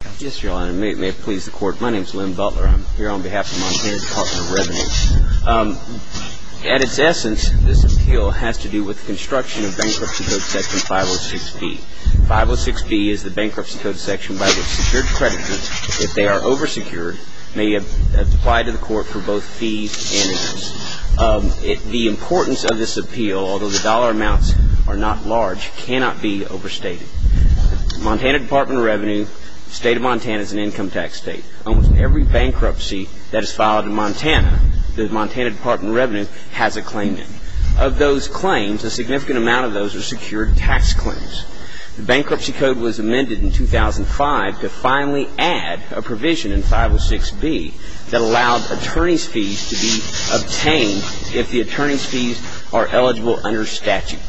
At its essence, this appeal has to do with construction of Bankruptcy Code Section 506B. 506B is the Bankruptcy Code Section by which secured creditors, if they are oversecured, may apply to the court for both fees and interest. The importance of this appeal, although the dollar amounts are not large, cannot be overstated. The State of Montana is an income tax state. Almost every bankruptcy that is filed in Montana, the Montana Department of Revenue has a claim in. Of those claims, a significant amount of those are secured tax claims. The Bankruptcy Code was amended in 2005 to finally add a provision in 506B that allowed attorney's fees to be obtained if the attorney's fees are eligible under statute.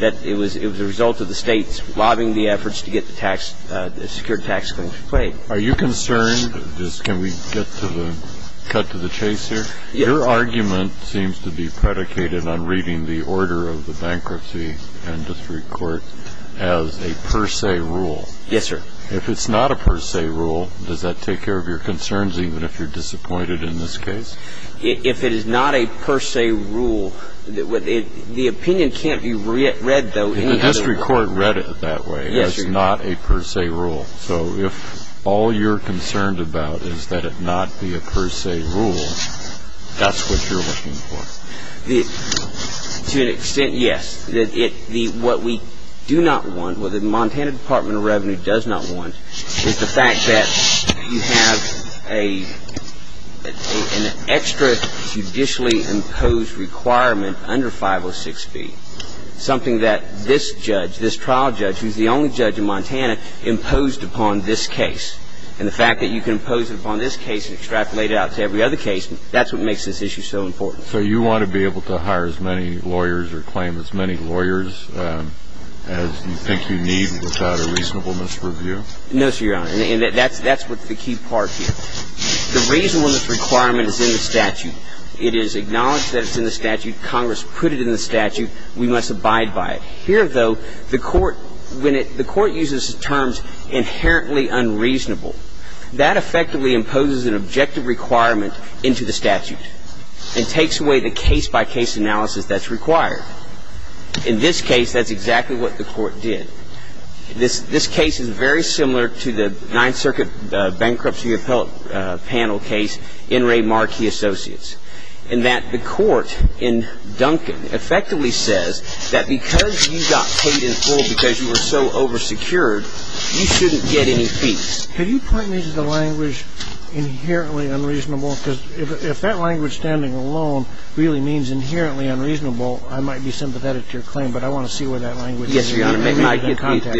That it was a result of the State's lobbying the efforts to get the tax, the secured tax claims to be paid. Are you concerned, just can we get to the, cut to the chase here? Yes. Your argument seems to be predicated on reading the order of the Bankruptcy Industry Court as a per se rule. Yes, sir. If it's not a per se rule, does that take care of your concerns, even if you're disappointed in this case? If it is not a per se rule, the opinion can't be read, though. The industry court read it that way. It's not a per se rule. So if all you're concerned about is that it not be a per se rule, that's what you're looking for. To an extent, yes. What we do not want, what the Montana Department of Revenue does not want, is the fact that you have an extra judicially imposed requirement under 506B. Something that this judge, this trial judge, who's the only judge in Montana, imposed upon this case. And the fact that you can impose it upon this case and extrapolate it out to every other case, that's what makes this issue so important. So you want to be able to hire as many lawyers or claim as many lawyers as you think you need without a reasonableness review? No, sir, Your Honor. And that's what's the key part here. The reasonableness requirement is in the statute. It is acknowledged that it's in the statute. Congress put it in the statute. We must abide by it. Here, though, the court uses terms inherently unreasonable. That effectively imposes an objective requirement into the statute and takes away the case-by-case analysis that's required. In this case, that's exactly what the court did. This case is very similar to the Ninth Circuit bankruptcy appellate panel case in Ray Markey Associates. In that the court in Duncan effectively says that because you got paid in full because you were so oversecured, you shouldn't get any fees. Could you point me to the language inherently unreasonable? Because if that language standing alone really means inherently unreasonable, I might be sympathetic to your claim, but I want to see where that language is. Yes, Your Honor. Absolutely. Well, what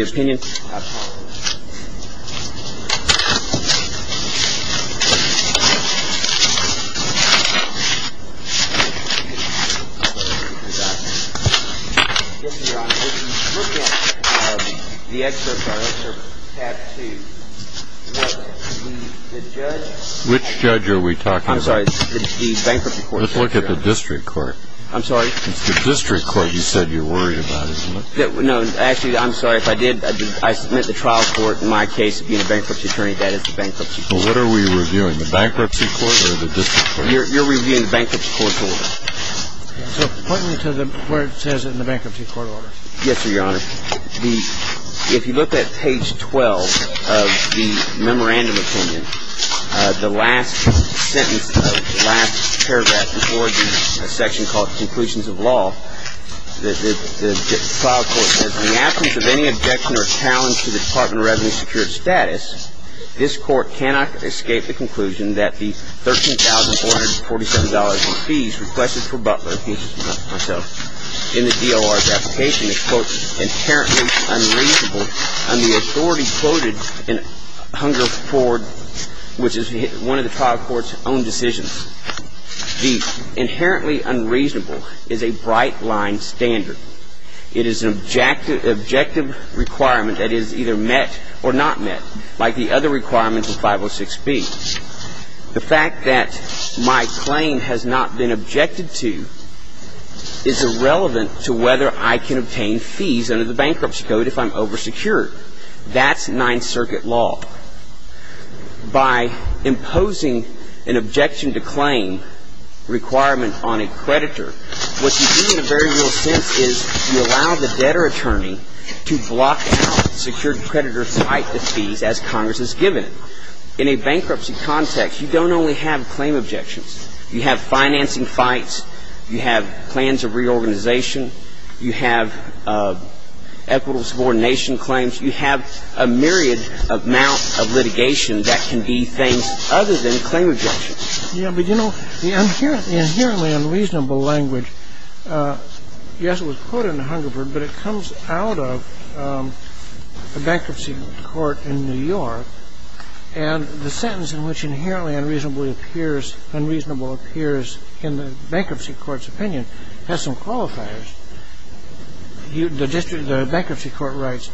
are we reviewing, the bankruptcy court or the district court? You're reviewing the bankruptcy court's order. So point me to where it says in the bankruptcy court order. Yes, sir, Your Honor. The ‑‑ if you look at page 12 of the memorandum opinion, the last sentence, the last paragraph, before the section called conclusions of law, the file court says, In the absence of any objection or challenge to the Department of Revenue's secured status, this Court cannot escape the conclusion that the $13,447 in fees requested for Butler, Mr. Butler, myself, in the DOR's application is, quote, inherently unreasonable on the authority quoted in Hungerford, which is one of the file court's own decisions. The inherently unreasonable is a bright line standard. It is an objective requirement that is either met or not met, like the other requirements of 506B. The fact that my claim has not been objected to is irrelevant to whether I can obtain fees under the bankruptcy code if I'm oversecured. That's Ninth Circuit law. By imposing an objection to claim requirement on a creditor, what you do in a very real sense is you allow the debtor attorney to block out secured creditor type of fees as Congress has given it. In a bankruptcy context, you don't only have claim objections. You have financing fights. You have plans of reorganization. You have equitable subordination claims. You have a myriad amount of litigation that can be things other than claim objections. Yeah, but, you know, the inherently unreasonable language, yes, it was quoted in Hungerford, but it comes out of the bankruptcy court in New York. And the sentence in which inherently unreasonable appears in the bankruptcy court's opinion has some qualifiers. The bankruptcy court writes,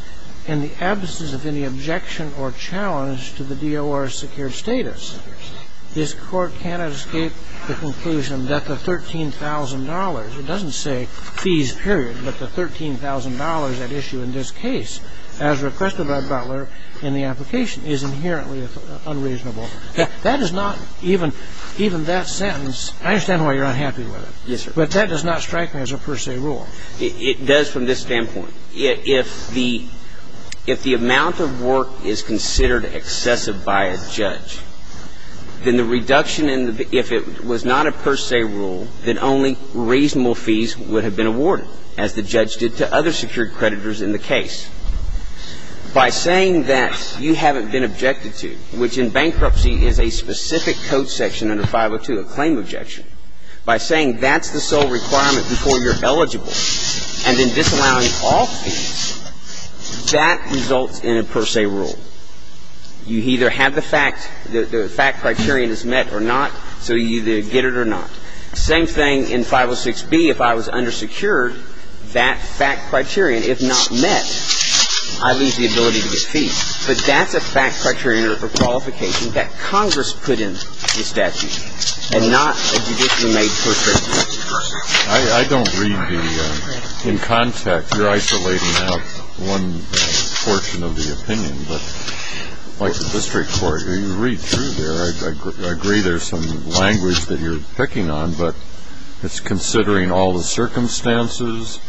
in the absence of any objection or challenge to the DOR's secured status, this court cannot escape the conclusion that the $13,000, it doesn't say fees period, but the $13,000 at issue in this case as requested by Butler in the application is inherently unreasonable. That is not even that sentence. I understand why you're unhappy with it. Yes, sir. But that does not strike me as a per se rule. It does from this standpoint. If the amount of work is considered excessive by a judge, then the reduction in the – if it was not a per se rule, then only reasonable fees would have been awarded, as the judge did to other secured creditors in the case. By saying that you haven't been objected to, which in bankruptcy is a specific code section under 502, a claim objection, by saying that's the sole requirement before you're eligible and then disallowing all fees, that results in a per se rule. You either have the fact – the fact criterion is met or not, so you either get it or not. Same thing in 506B. If I was undersecured, that fact criterion, if not met, I lose the ability to get fees. But that's a fact criterion or qualification that Congress put in the statute and not a judicially made coercion. I don't read the – in context, you're isolating out one portion of the opinion, but like the district court, you read through there. I agree there's some language that you're picking on, but it's considering all the circumstances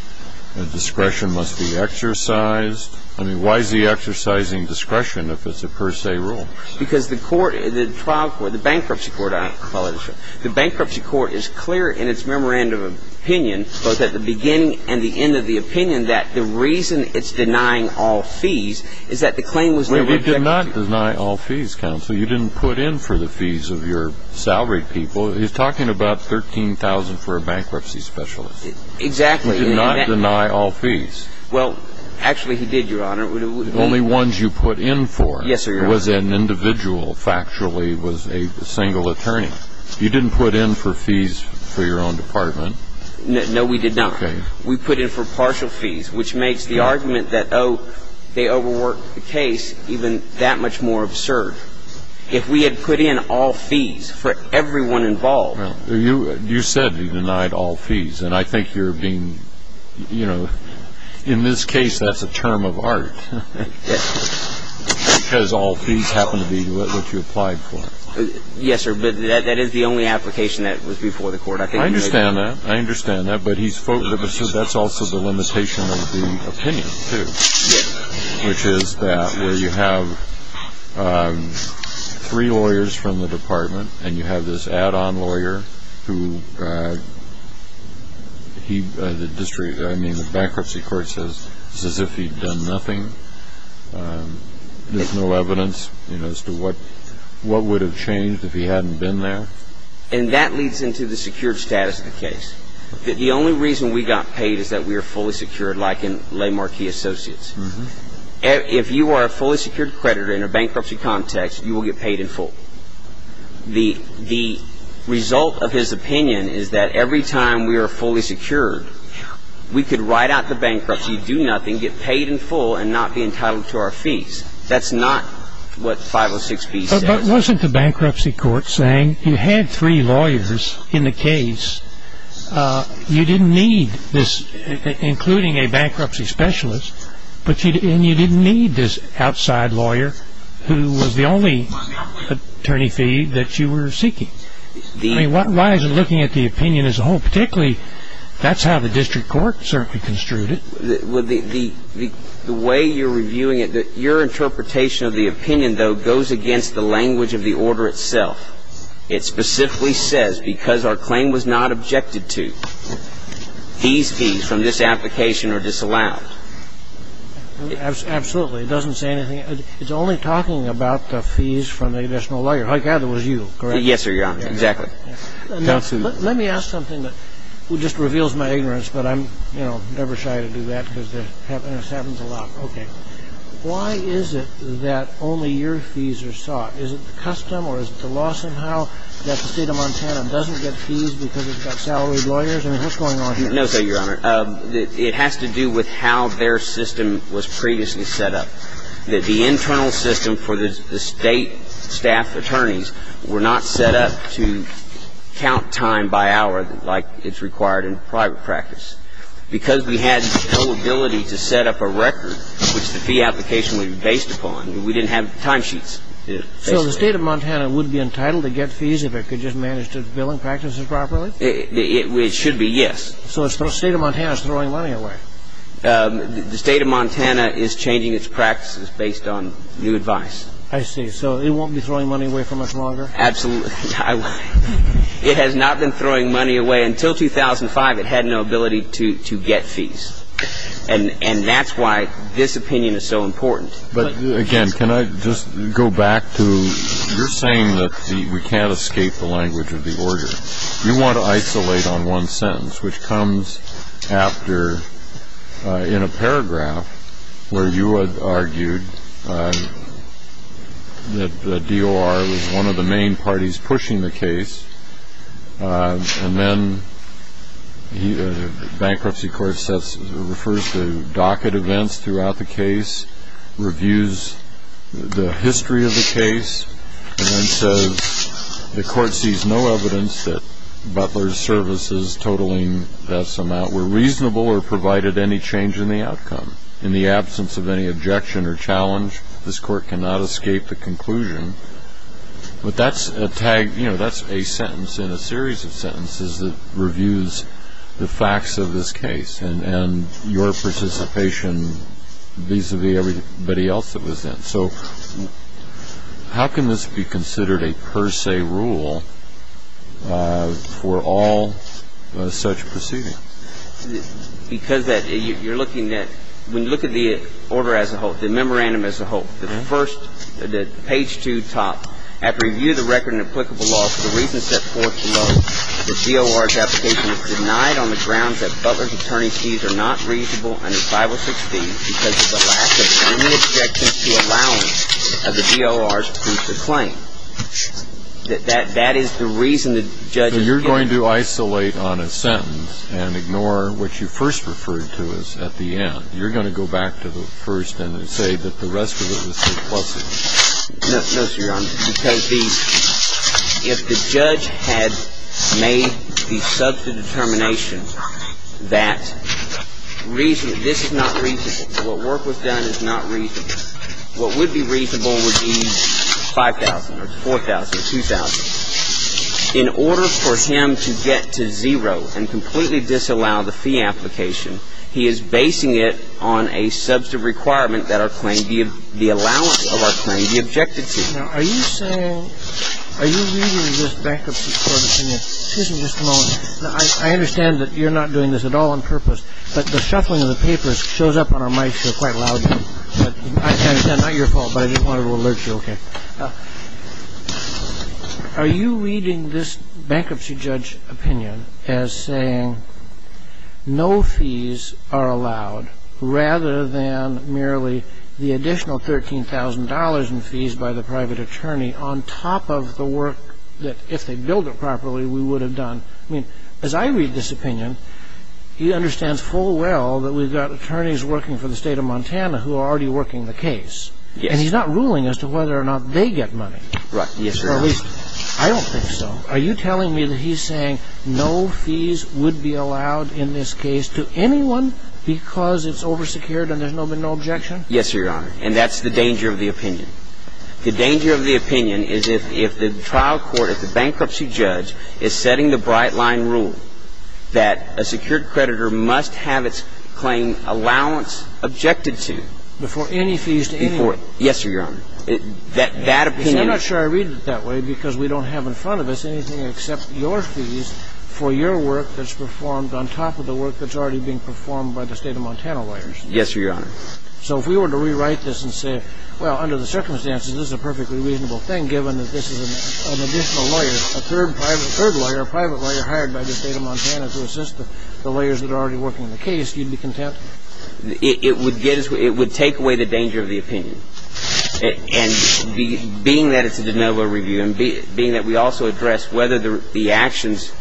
and discretion must be exercised. I mean, why is he exercising discretion if it's a per se rule? Because the court – the trial court, the bankruptcy court, I apologize. The bankruptcy court is clear in its memorandum of opinion, both at the beginning and the end of the opinion, that the reason it's denying all fees is that the claim was – Well, he did not deny all fees, counsel. You didn't put in for the fees of your salaried people. He's talking about $13,000 for a bankruptcy specialist. Exactly. He did not deny all fees. Well, actually he did, Your Honor. Only ones you put in for. Yes, sir, Your Honor. It was an individual. Factually, it was a single attorney. You didn't put in for fees for your own department. No, we did not. Okay. We put in for partial fees, which makes the argument that, oh, they overworked the case even that much more absurd. If we had put in all fees for everyone involved – Well, you said you denied all fees, and I think you're being – you know, in this case, that's a term of art. Because all fees happen to be what you applied for. Yes, sir, but that is the only application that was before the court. I understand that. I understand that, but that's also the limitation of the opinion, too, which is that where you have three lawyers from the department and you have this add-on lawyer who he – I mean, the bankruptcy court says it's as if he'd done nothing. There's no evidence as to what would have changed if he hadn't been there. And that leads into the secured status of the case. The only reason we got paid is that we are fully secured, like in Le Marquis Associates. If you are a fully secured creditor in a bankruptcy context, you will get paid in full. The result of his opinion is that every time we are fully secured, we could write out the bankruptcy, do nothing, get paid in full and not be entitled to our fees. That's not what 506B says. But wasn't the bankruptcy court saying you had three lawyers in the case, you didn't need this, including a bankruptcy specialist, and you didn't need this outside lawyer who was the only attorney fee that you were seeking? I mean, why is it looking at the opinion as a whole? Particularly, that's how the district court certainly construed it. The way you're reviewing it, your interpretation of the opinion, though, goes against the language of the order itself. It specifically says, because our claim was not objected to, these fees from this application are disallowed. Absolutely. It doesn't say anything. It's only talking about the fees from the additional lawyer. I gather it was you, correct? Yes, sir, Your Honor. Exactly. Let me ask something that just reveals my ignorance, but I'm, you know, never shy to do that because this happens a lot. Okay. Why is it that only your fees are sought? Is it custom or is it the law somehow that the State of Montana doesn't get fees because it's got salaried lawyers? I mean, what's going on here? No, sir, Your Honor. It has to do with how their system was previously set up, that the internal system for the State staff attorneys were not set up to count time by hour like it's required in private practice. Because we had no ability to set up a record which the fee application was based upon, we didn't have timesheets. So the State of Montana would be entitled to get fees if it could just manage its billing practices properly? It should be, yes. So the State of Montana is throwing money away. The State of Montana is changing its practices based on new advice. I see. So it won't be throwing money away for much longer? Absolutely. It has not been throwing money away until 2005. It had no ability to get fees. And that's why this opinion is so important. But, again, can I just go back to you're saying that we can't escape the language of the order. You want to isolate on one sentence, which comes after, in a paragraph, where you had argued that the DOR was one of the main parties pushing the case, and then the bankruptcy court refers to docket events throughout the case, reviews the history of the case, and then says the court sees no evidence that Butler's services totaling this amount were reasonable or provided any change in the outcome. In the absence of any objection or challenge, this court cannot escape the conclusion. But that's a sentence in a series of sentences that reviews the facts of this case and your participation vis-a-vis everybody else that was in. So how can this be considered a per se rule for all such proceedings? Because you're looking at, when you look at the order as a whole, the memorandum as a whole, the first, the page 2 top, after you review the record in applicable law for the reasons set forth below, the DOR's application is denied on the grounds that Butler's attorney's fees are not reasonable under 506B because of the lack of any objection to allowance of the DOR's proof of claim. That is the reason the judge is here. So you're going to isolate on a sentence and ignore what you first referred to as at the end. You're going to go back to the first and say that the rest of it was compulsive. No, sir, Your Honor, because if the judge had made the substantive determination that this is not reasonable, what work was done is not reasonable, what would be reasonable would be 5,000 or 4,000 or 2,000. In order for him to get to zero and completely disallow the fee application, he is basing it on a substantive requirement that our claim be the allowance of our claim, the objected fee. Now, are you saying, are you reading this bankruptcy court opinion? Excuse me just a moment. I understand that you're not doing this at all on purpose, but the shuffling of the papers shows up on our mic show quite loudly. I can't attend, not your fault, but I just wanted to alert you, okay? Are you reading this bankruptcy judge opinion as saying no fees are allowed rather than merely the additional $13,000 in fees by the private attorney on top of the work that if they billed it properly we would have done? I mean, as I read this opinion, he understands full well that we've got attorneys working for the state of Montana who are already working the case. Yes. And he's not ruling as to whether or not they get money. Right, yes, Your Honor. Or at least, I don't think so. Are you telling me that he's saying no fees would be allowed in this case to anyone because it's oversecured and there's no objection? Yes, Your Honor, and that's the danger of the opinion. The danger of the opinion is if the trial court, if the bankruptcy judge is setting the bright line rule that a secured creditor must have its claim allowance objected to before any fees to anyone. Yes, Your Honor. I'm not sure I read it that way because we don't have in front of us anything except your fees for your work that's performed on top of the work that's already being performed by the state of Montana lawyers. Yes, Your Honor. So if we were to rewrite this and say, well, under the circumstances, this is a perfectly reasonable thing given that this is an additional lawyer, a third lawyer, a private lawyer hired by the state of Montana to assist the lawyers that are already working the case, you'd be content? It would take away the danger of the opinion. And being that it's a de novo review and being that we also address whether the actions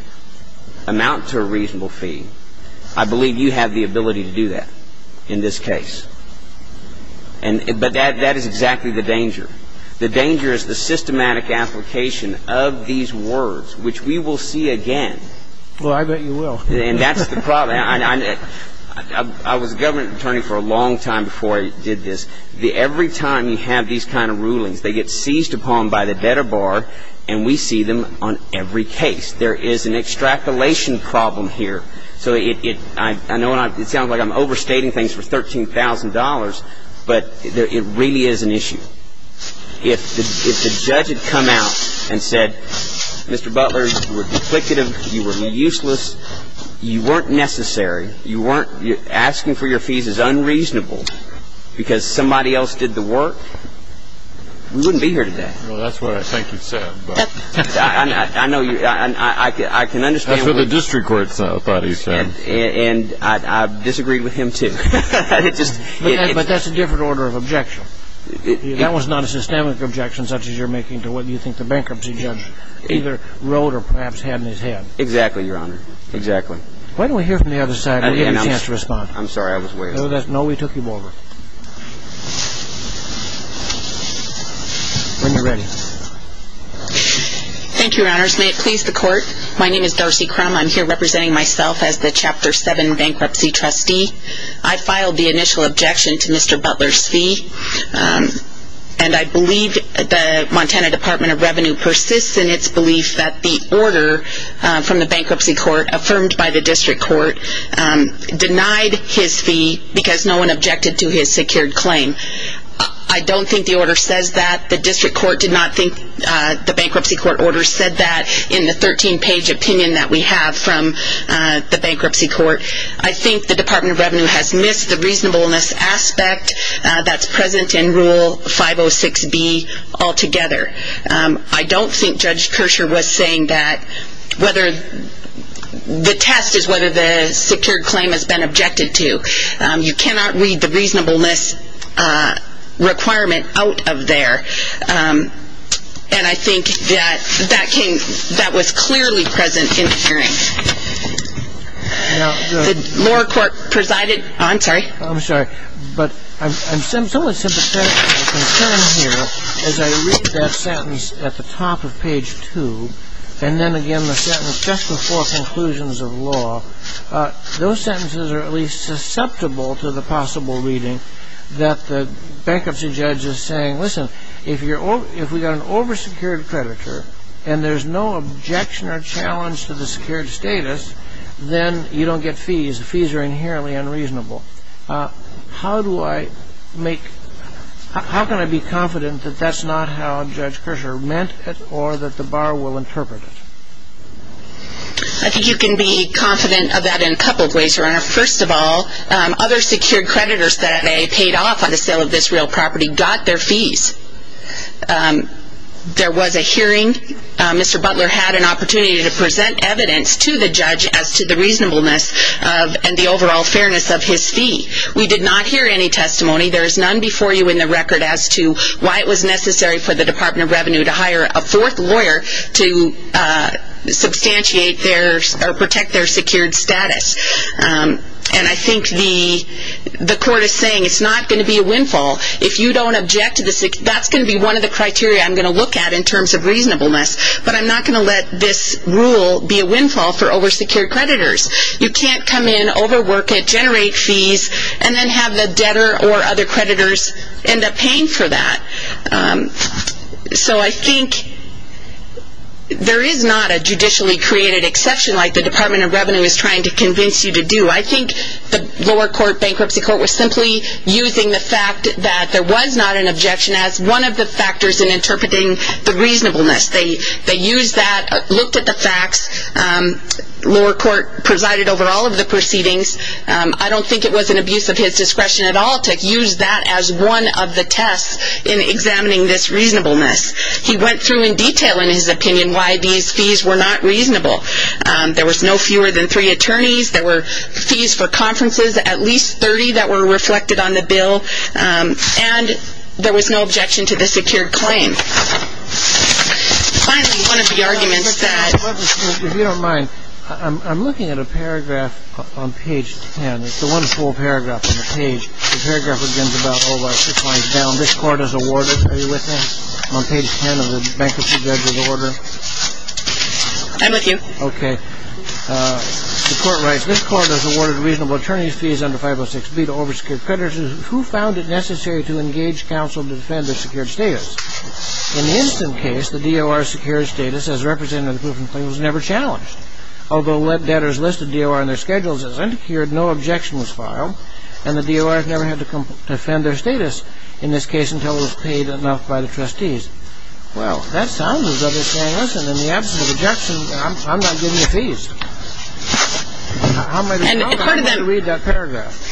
amount to a reasonable fee, I believe you have the ability to do that in this case. But that is exactly the danger. The danger is the systematic application of these words, which we will see again. Well, I bet you will. And that's the problem. I was a government attorney for a long time before I did this. Every time you have these kind of rulings, they get seized upon by the debtor bar, and we see them on every case. There is an extrapolation problem here. So I know it sounds like I'm overstating things for $13,000, but it really is an issue. If the judge had come out and said, Mr. Butler, you were duplicative, you were useless, you weren't necessary, you weren't asking for your fees as unreasonable because somebody else did the work, we wouldn't be here today. Well, that's what I think you said. I know you – I can understand what you – That's what the district court thought he said. And I disagreed with him, too. But that's a different order of objection. That was not a systemic objection such as you're making to what you think the bankruptcy judge either wrote or perhaps had in his head. Exactly, Your Honor. Exactly. Why don't we hear from the other side and we'll give you a chance to respond. I'm sorry. I was way off. No, we took you over. When you're ready. Thank you, Your Honors. May it please the Court? My name is Darcy Crum. I'm here representing myself as the Chapter 7 bankruptcy trustee. I filed the initial objection to Mr. Butler's fee. And I believe the Montana Department of Revenue persists in its belief that the order from the bankruptcy court affirmed by the district court denied his fee because no one objected to his secured claim. I don't think the order says that. The district court did not think the bankruptcy court order said that in the 13-page opinion that we have from the bankruptcy court. I think the Department of Revenue has missed the reasonableness aspect that's present in Rule 506B altogether. I don't think Judge Kershaw was saying that whether the test is whether the secured claim has been objected to. You cannot read the reasonableness requirement out of there. And I think that that was clearly present in the hearing. I'm sorry, but I'm somewhat sympathetic to the concern here. As I read that sentence at the top of page 2, and then again the sentence just before conclusions of law, those sentences are at least susceptible to the possible reading that the bankruptcy judge is saying, listen, if we've got an over-secured creditor and there's no objection or challenge to the secured status, then you don't get fees. The fees are inherently unreasonable. How can I be confident that that's not how Judge Kershaw meant it or that the bar will interpret it? I think you can be confident of that in a couple of ways, Your Honor. First of all, other secured creditors that they paid off on the sale of this real property got their fees. There was a hearing. Mr. Butler had an opportunity to present evidence to the judge as to the reasonableness and the overall fairness of his fee. We did not hear any testimony. There is none before you in the record as to why it was necessary for the Department of Revenue to hire a fourth lawyer to substantiate or protect their secured status. And I think the court is saying it's not going to be a windfall. If you don't object to this, that's going to be one of the criteria I'm going to look at in terms of reasonableness, but I'm not going to let this rule be a windfall for over-secured creditors. You can't come in, overwork it, generate fees, and then have the debtor or other creditors end up paying for that. So I think there is not a judicially created exception like the Department of Revenue is trying to convince you to do. I think the lower court, bankruptcy court, was simply using the fact that there was not an objection as one of the factors in interpreting the reasonableness. They used that, looked at the facts. Lower court presided over all of the proceedings. I don't think it was an abuse of his discretion at all to use that as one of the tests in examining this reasonableness. He went through in detail in his opinion why these fees were not reasonable. There was no fewer than three attorneys. There were fees for conferences, at least 30 that were reflected on the bill, and there was no objection to the secured claim. Finally, one of the arguments that... If you don't mind, I'm looking at a paragraph on page 10. It's a wonderful paragraph on the page. The paragraph begins about, oh, this line is down. This court has awarded... Are you with me on page 10 of the bankruptcy judge's order? I'm with you. Okay. The court writes, This court has awarded reasonable attorneys fees under 506B to over-secured creditors. Who found it necessary to engage counsel to defend their secured status? In this case, the D.O.R. secured status as representative of the proven claim was never challenged. Although debtors listed D.O.R. in their schedules as undeclared, no objection was filed, and the D.O.R. never had to defend their status in this case until it was paid enough by the trustees. Well, that sounds as though they're saying, listen, in the absence of objection, I'm not giving you fees. How am I to respond? I want to read that paragraph.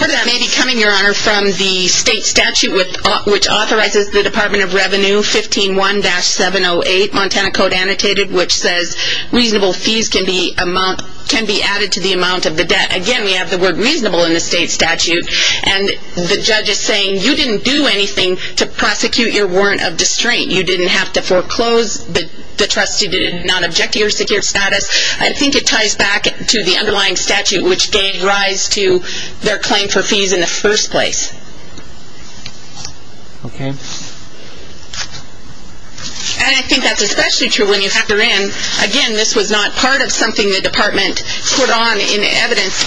That may be coming, Your Honor, from the state statute which authorizes the Department of Revenue, 15-1-708, Montana Code Annotated, which says reasonable fees can be added to the amount of the debt. Again, we have the word reasonable in the state statute, and the judge is saying you didn't do anything to prosecute your warrant of disdain. You didn't have to foreclose. The trustee did not object to your secured status. I think it ties back to the underlying statute, which gave rise to their claim for fees in the first place. Okay. And I think that's especially true when you factor in, again, this was not part of something the department put on in evidence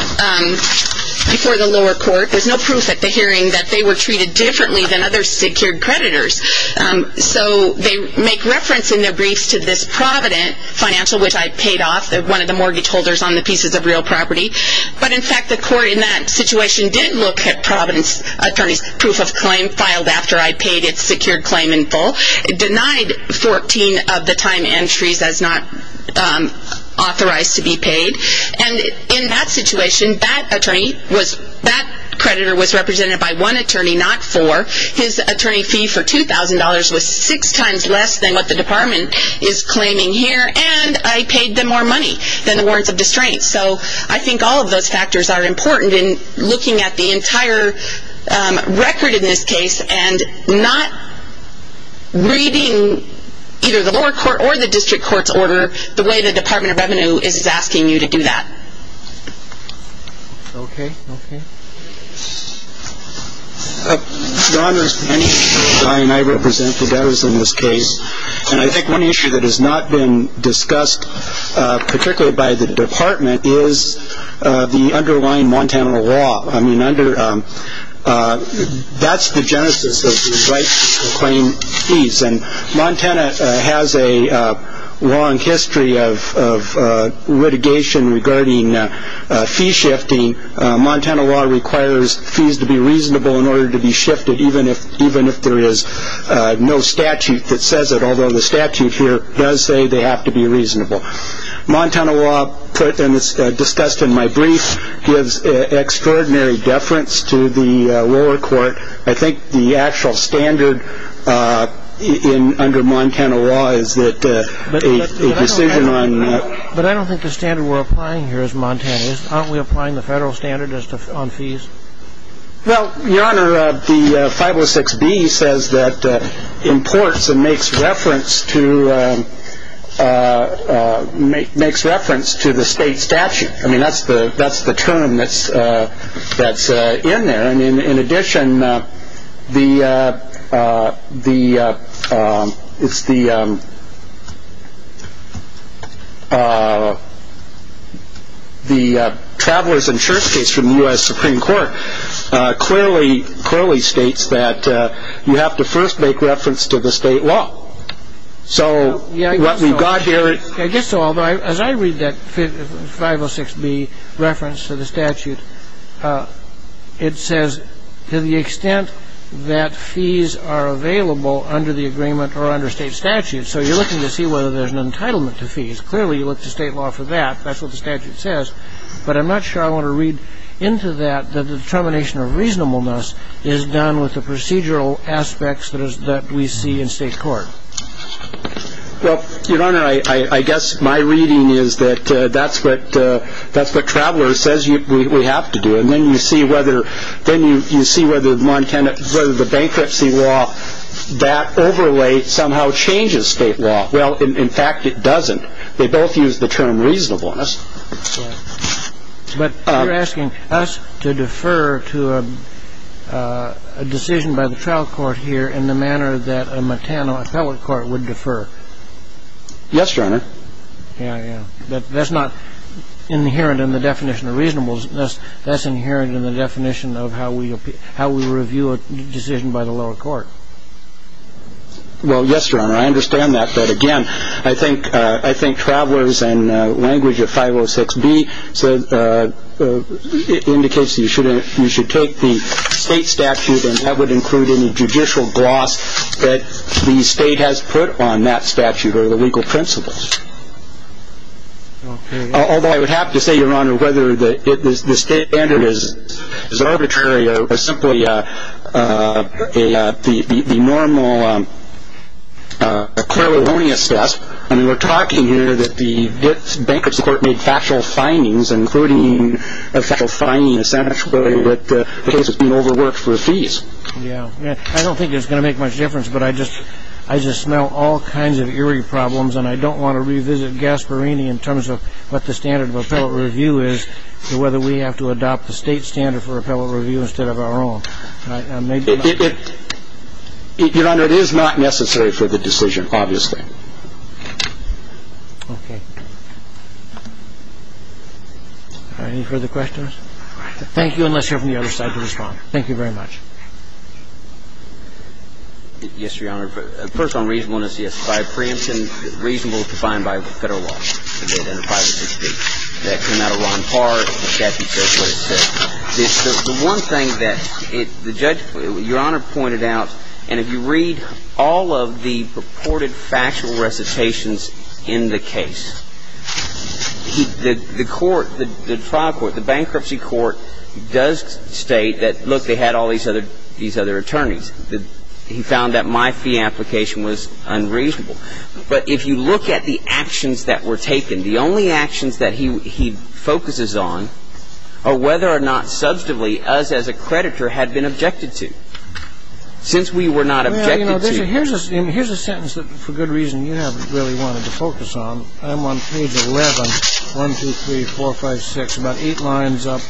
before the lower court. There's no proof at the hearing that they were treated differently than other secured creditors. So they make reference in their briefs to this Provident financial, which I paid off, one of the mortgage holders on the pieces of real property. But, in fact, the court in that situation did look at Provident's attorney's proof of claim, filed after I paid its secured claim in full, denied 14 of the time entries as not authorized to be paid. And in that situation, that attorney was, that creditor was represented by one attorney, not four. His attorney fee for $2,000 was six times less than what the department is claiming here. And I paid them more money than the warrants of disdain. So I think all of those factors are important in looking at the entire record in this case and not reading either the lower court or the district court's order the way the Department of Revenue is asking you to do that. Okay. Okay. I represent the debtors in this case. And I think one issue that has not been discussed particularly by the department is the underlying Montana law. I mean, under that's the genesis of the claim. And Montana has a long history of litigation regarding fee shifting. Montana law requires fees to be reasonable in order to be shifted, even if there is no statute that says it, although the statute here does say they have to be reasonable. Montana law, and it's discussed in my brief, gives extraordinary deference to the lower court. I think the actual standard under Montana law is that a decision on. But I don't think the standard we're applying here is Montana. Aren't we applying the federal standard on fees? Well, Your Honor, the 506B says that imports and makes reference to the state statute. I mean, that's the term that's in there. And in addition, the travelers insurance case from the U.S. Supreme Court clearly states that you have to first make reference to the state law. So what we've got here. I guess so, although as I read that 506B reference to the statute, it says to the extent that fees are available under the agreement or under state statute. So you're looking to see whether there's an entitlement to fees. Clearly, you look to state law for that. That's what the statute says. But I'm not sure I want to read into that the determination of reasonableness is done with the procedural aspects that we see in state court. Well, Your Honor, I guess my reading is that that's what travelers says we have to do. And then you see whether the bankruptcy law, that overlay somehow changes state law. Well, in fact, it doesn't. They both use the term reasonableness. But you're asking us to defer to a decision by the trial court here in the manner that a Montana appellate court would defer. Yes, Your Honor. That's not inherent in the definition of reasonableness. That's inherent in the definition of how we how we review a decision by the lower court. Well, yes, Your Honor, I understand that. But, again, I think I think travelers and language of 506 B. So it indicates that you shouldn't you should take the state statute. And that would include any judicial gloss that the state has put on that statute or the legal principles. OK. Although I would have to say, Your Honor, whether the state standard is arbitrary or simply the normal. I mean, we're talking here that the bankruptcy court made factual findings, including a factual finding essentially that the case has been overworked for fees. Yeah. I don't think it's going to make much difference. But I just I just smell all kinds of eerie problems. And I don't want to revisit Gasparini in terms of what the standard of appellate review is, whether we have to adopt the state standard for appellate review instead of our own. Your Honor, it is not necessary for the decision, obviously. OK. Any further questions? Thank you. And let's hear from the other side to respond. Thank you very much. Yes, Your Honor. First on reasonableness. Yes. By preemption, reasonable is defined by federal law. That came out of Ron Park. The statute says what it says. The one thing that the judge, Your Honor, pointed out, and if you read all of the purported factual recitations in the case, the court, the trial court, the bankruptcy court does state that, look, they had all these other attorneys. He found that my fee application was unreasonable. But if you look at the actions that were taken, the only actions that he focuses on are whether or not substantively us as a creditor had been objected to. Well, you know, here's a sentence that, for good reason, you haven't really wanted to focus on. I'm on page 11, 1, 2, 3, 4, 5, 6, about eight lines up,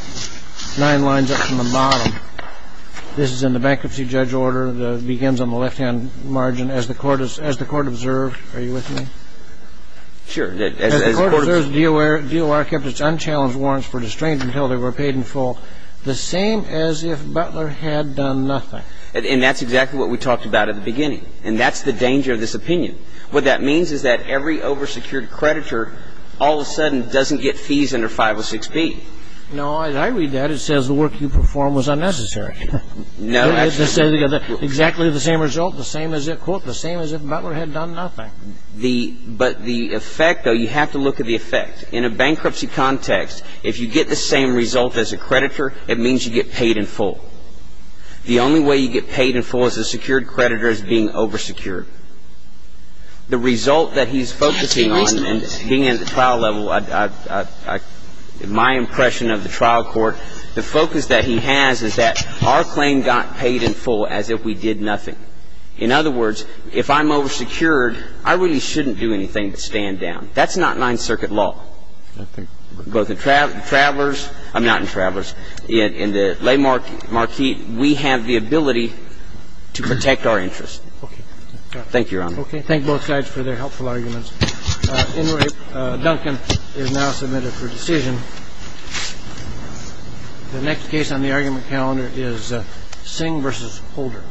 nine lines up from the bottom. This is in the bankruptcy judge order. It begins on the left-hand margin. As the court observed, are you with me? Sure. As the court observed, DOR kept its unchallenged warrants for distraint until they were paid in full, the same as if Butler had done nothing. And that's exactly what we talked about at the beginning. And that's the danger of this opinion. What that means is that every over-secured creditor all of a sudden doesn't get fees under 506B. No. As I read that, it says the work you performed was unnecessary. No. It says exactly the same result, the same as if, quote, the same as if Butler had done nothing. But the effect, though, you have to look at the effect. In a bankruptcy context, if you get the same result as a creditor, it means you get paid in full. The only way you get paid in full as a secured creditor is being over-secured. The result that he's focusing on and being at the trial level, my impression of the trial court, the focus that he has is that our claim got paid in full as if we did nothing. In other words, if I'm over-secured, I really shouldn't do anything to stand down. That's not Ninth Circuit law. I think both the Travelers – I'm not in Travelers. In the Les Marquis, we have the ability to protect our interests. Thank you, Your Honor. Okay. Thank both sides for their helpful arguments. At any rate, Duncan is now submitted for decision. The next case on the argument calendar is Singh v. Holder.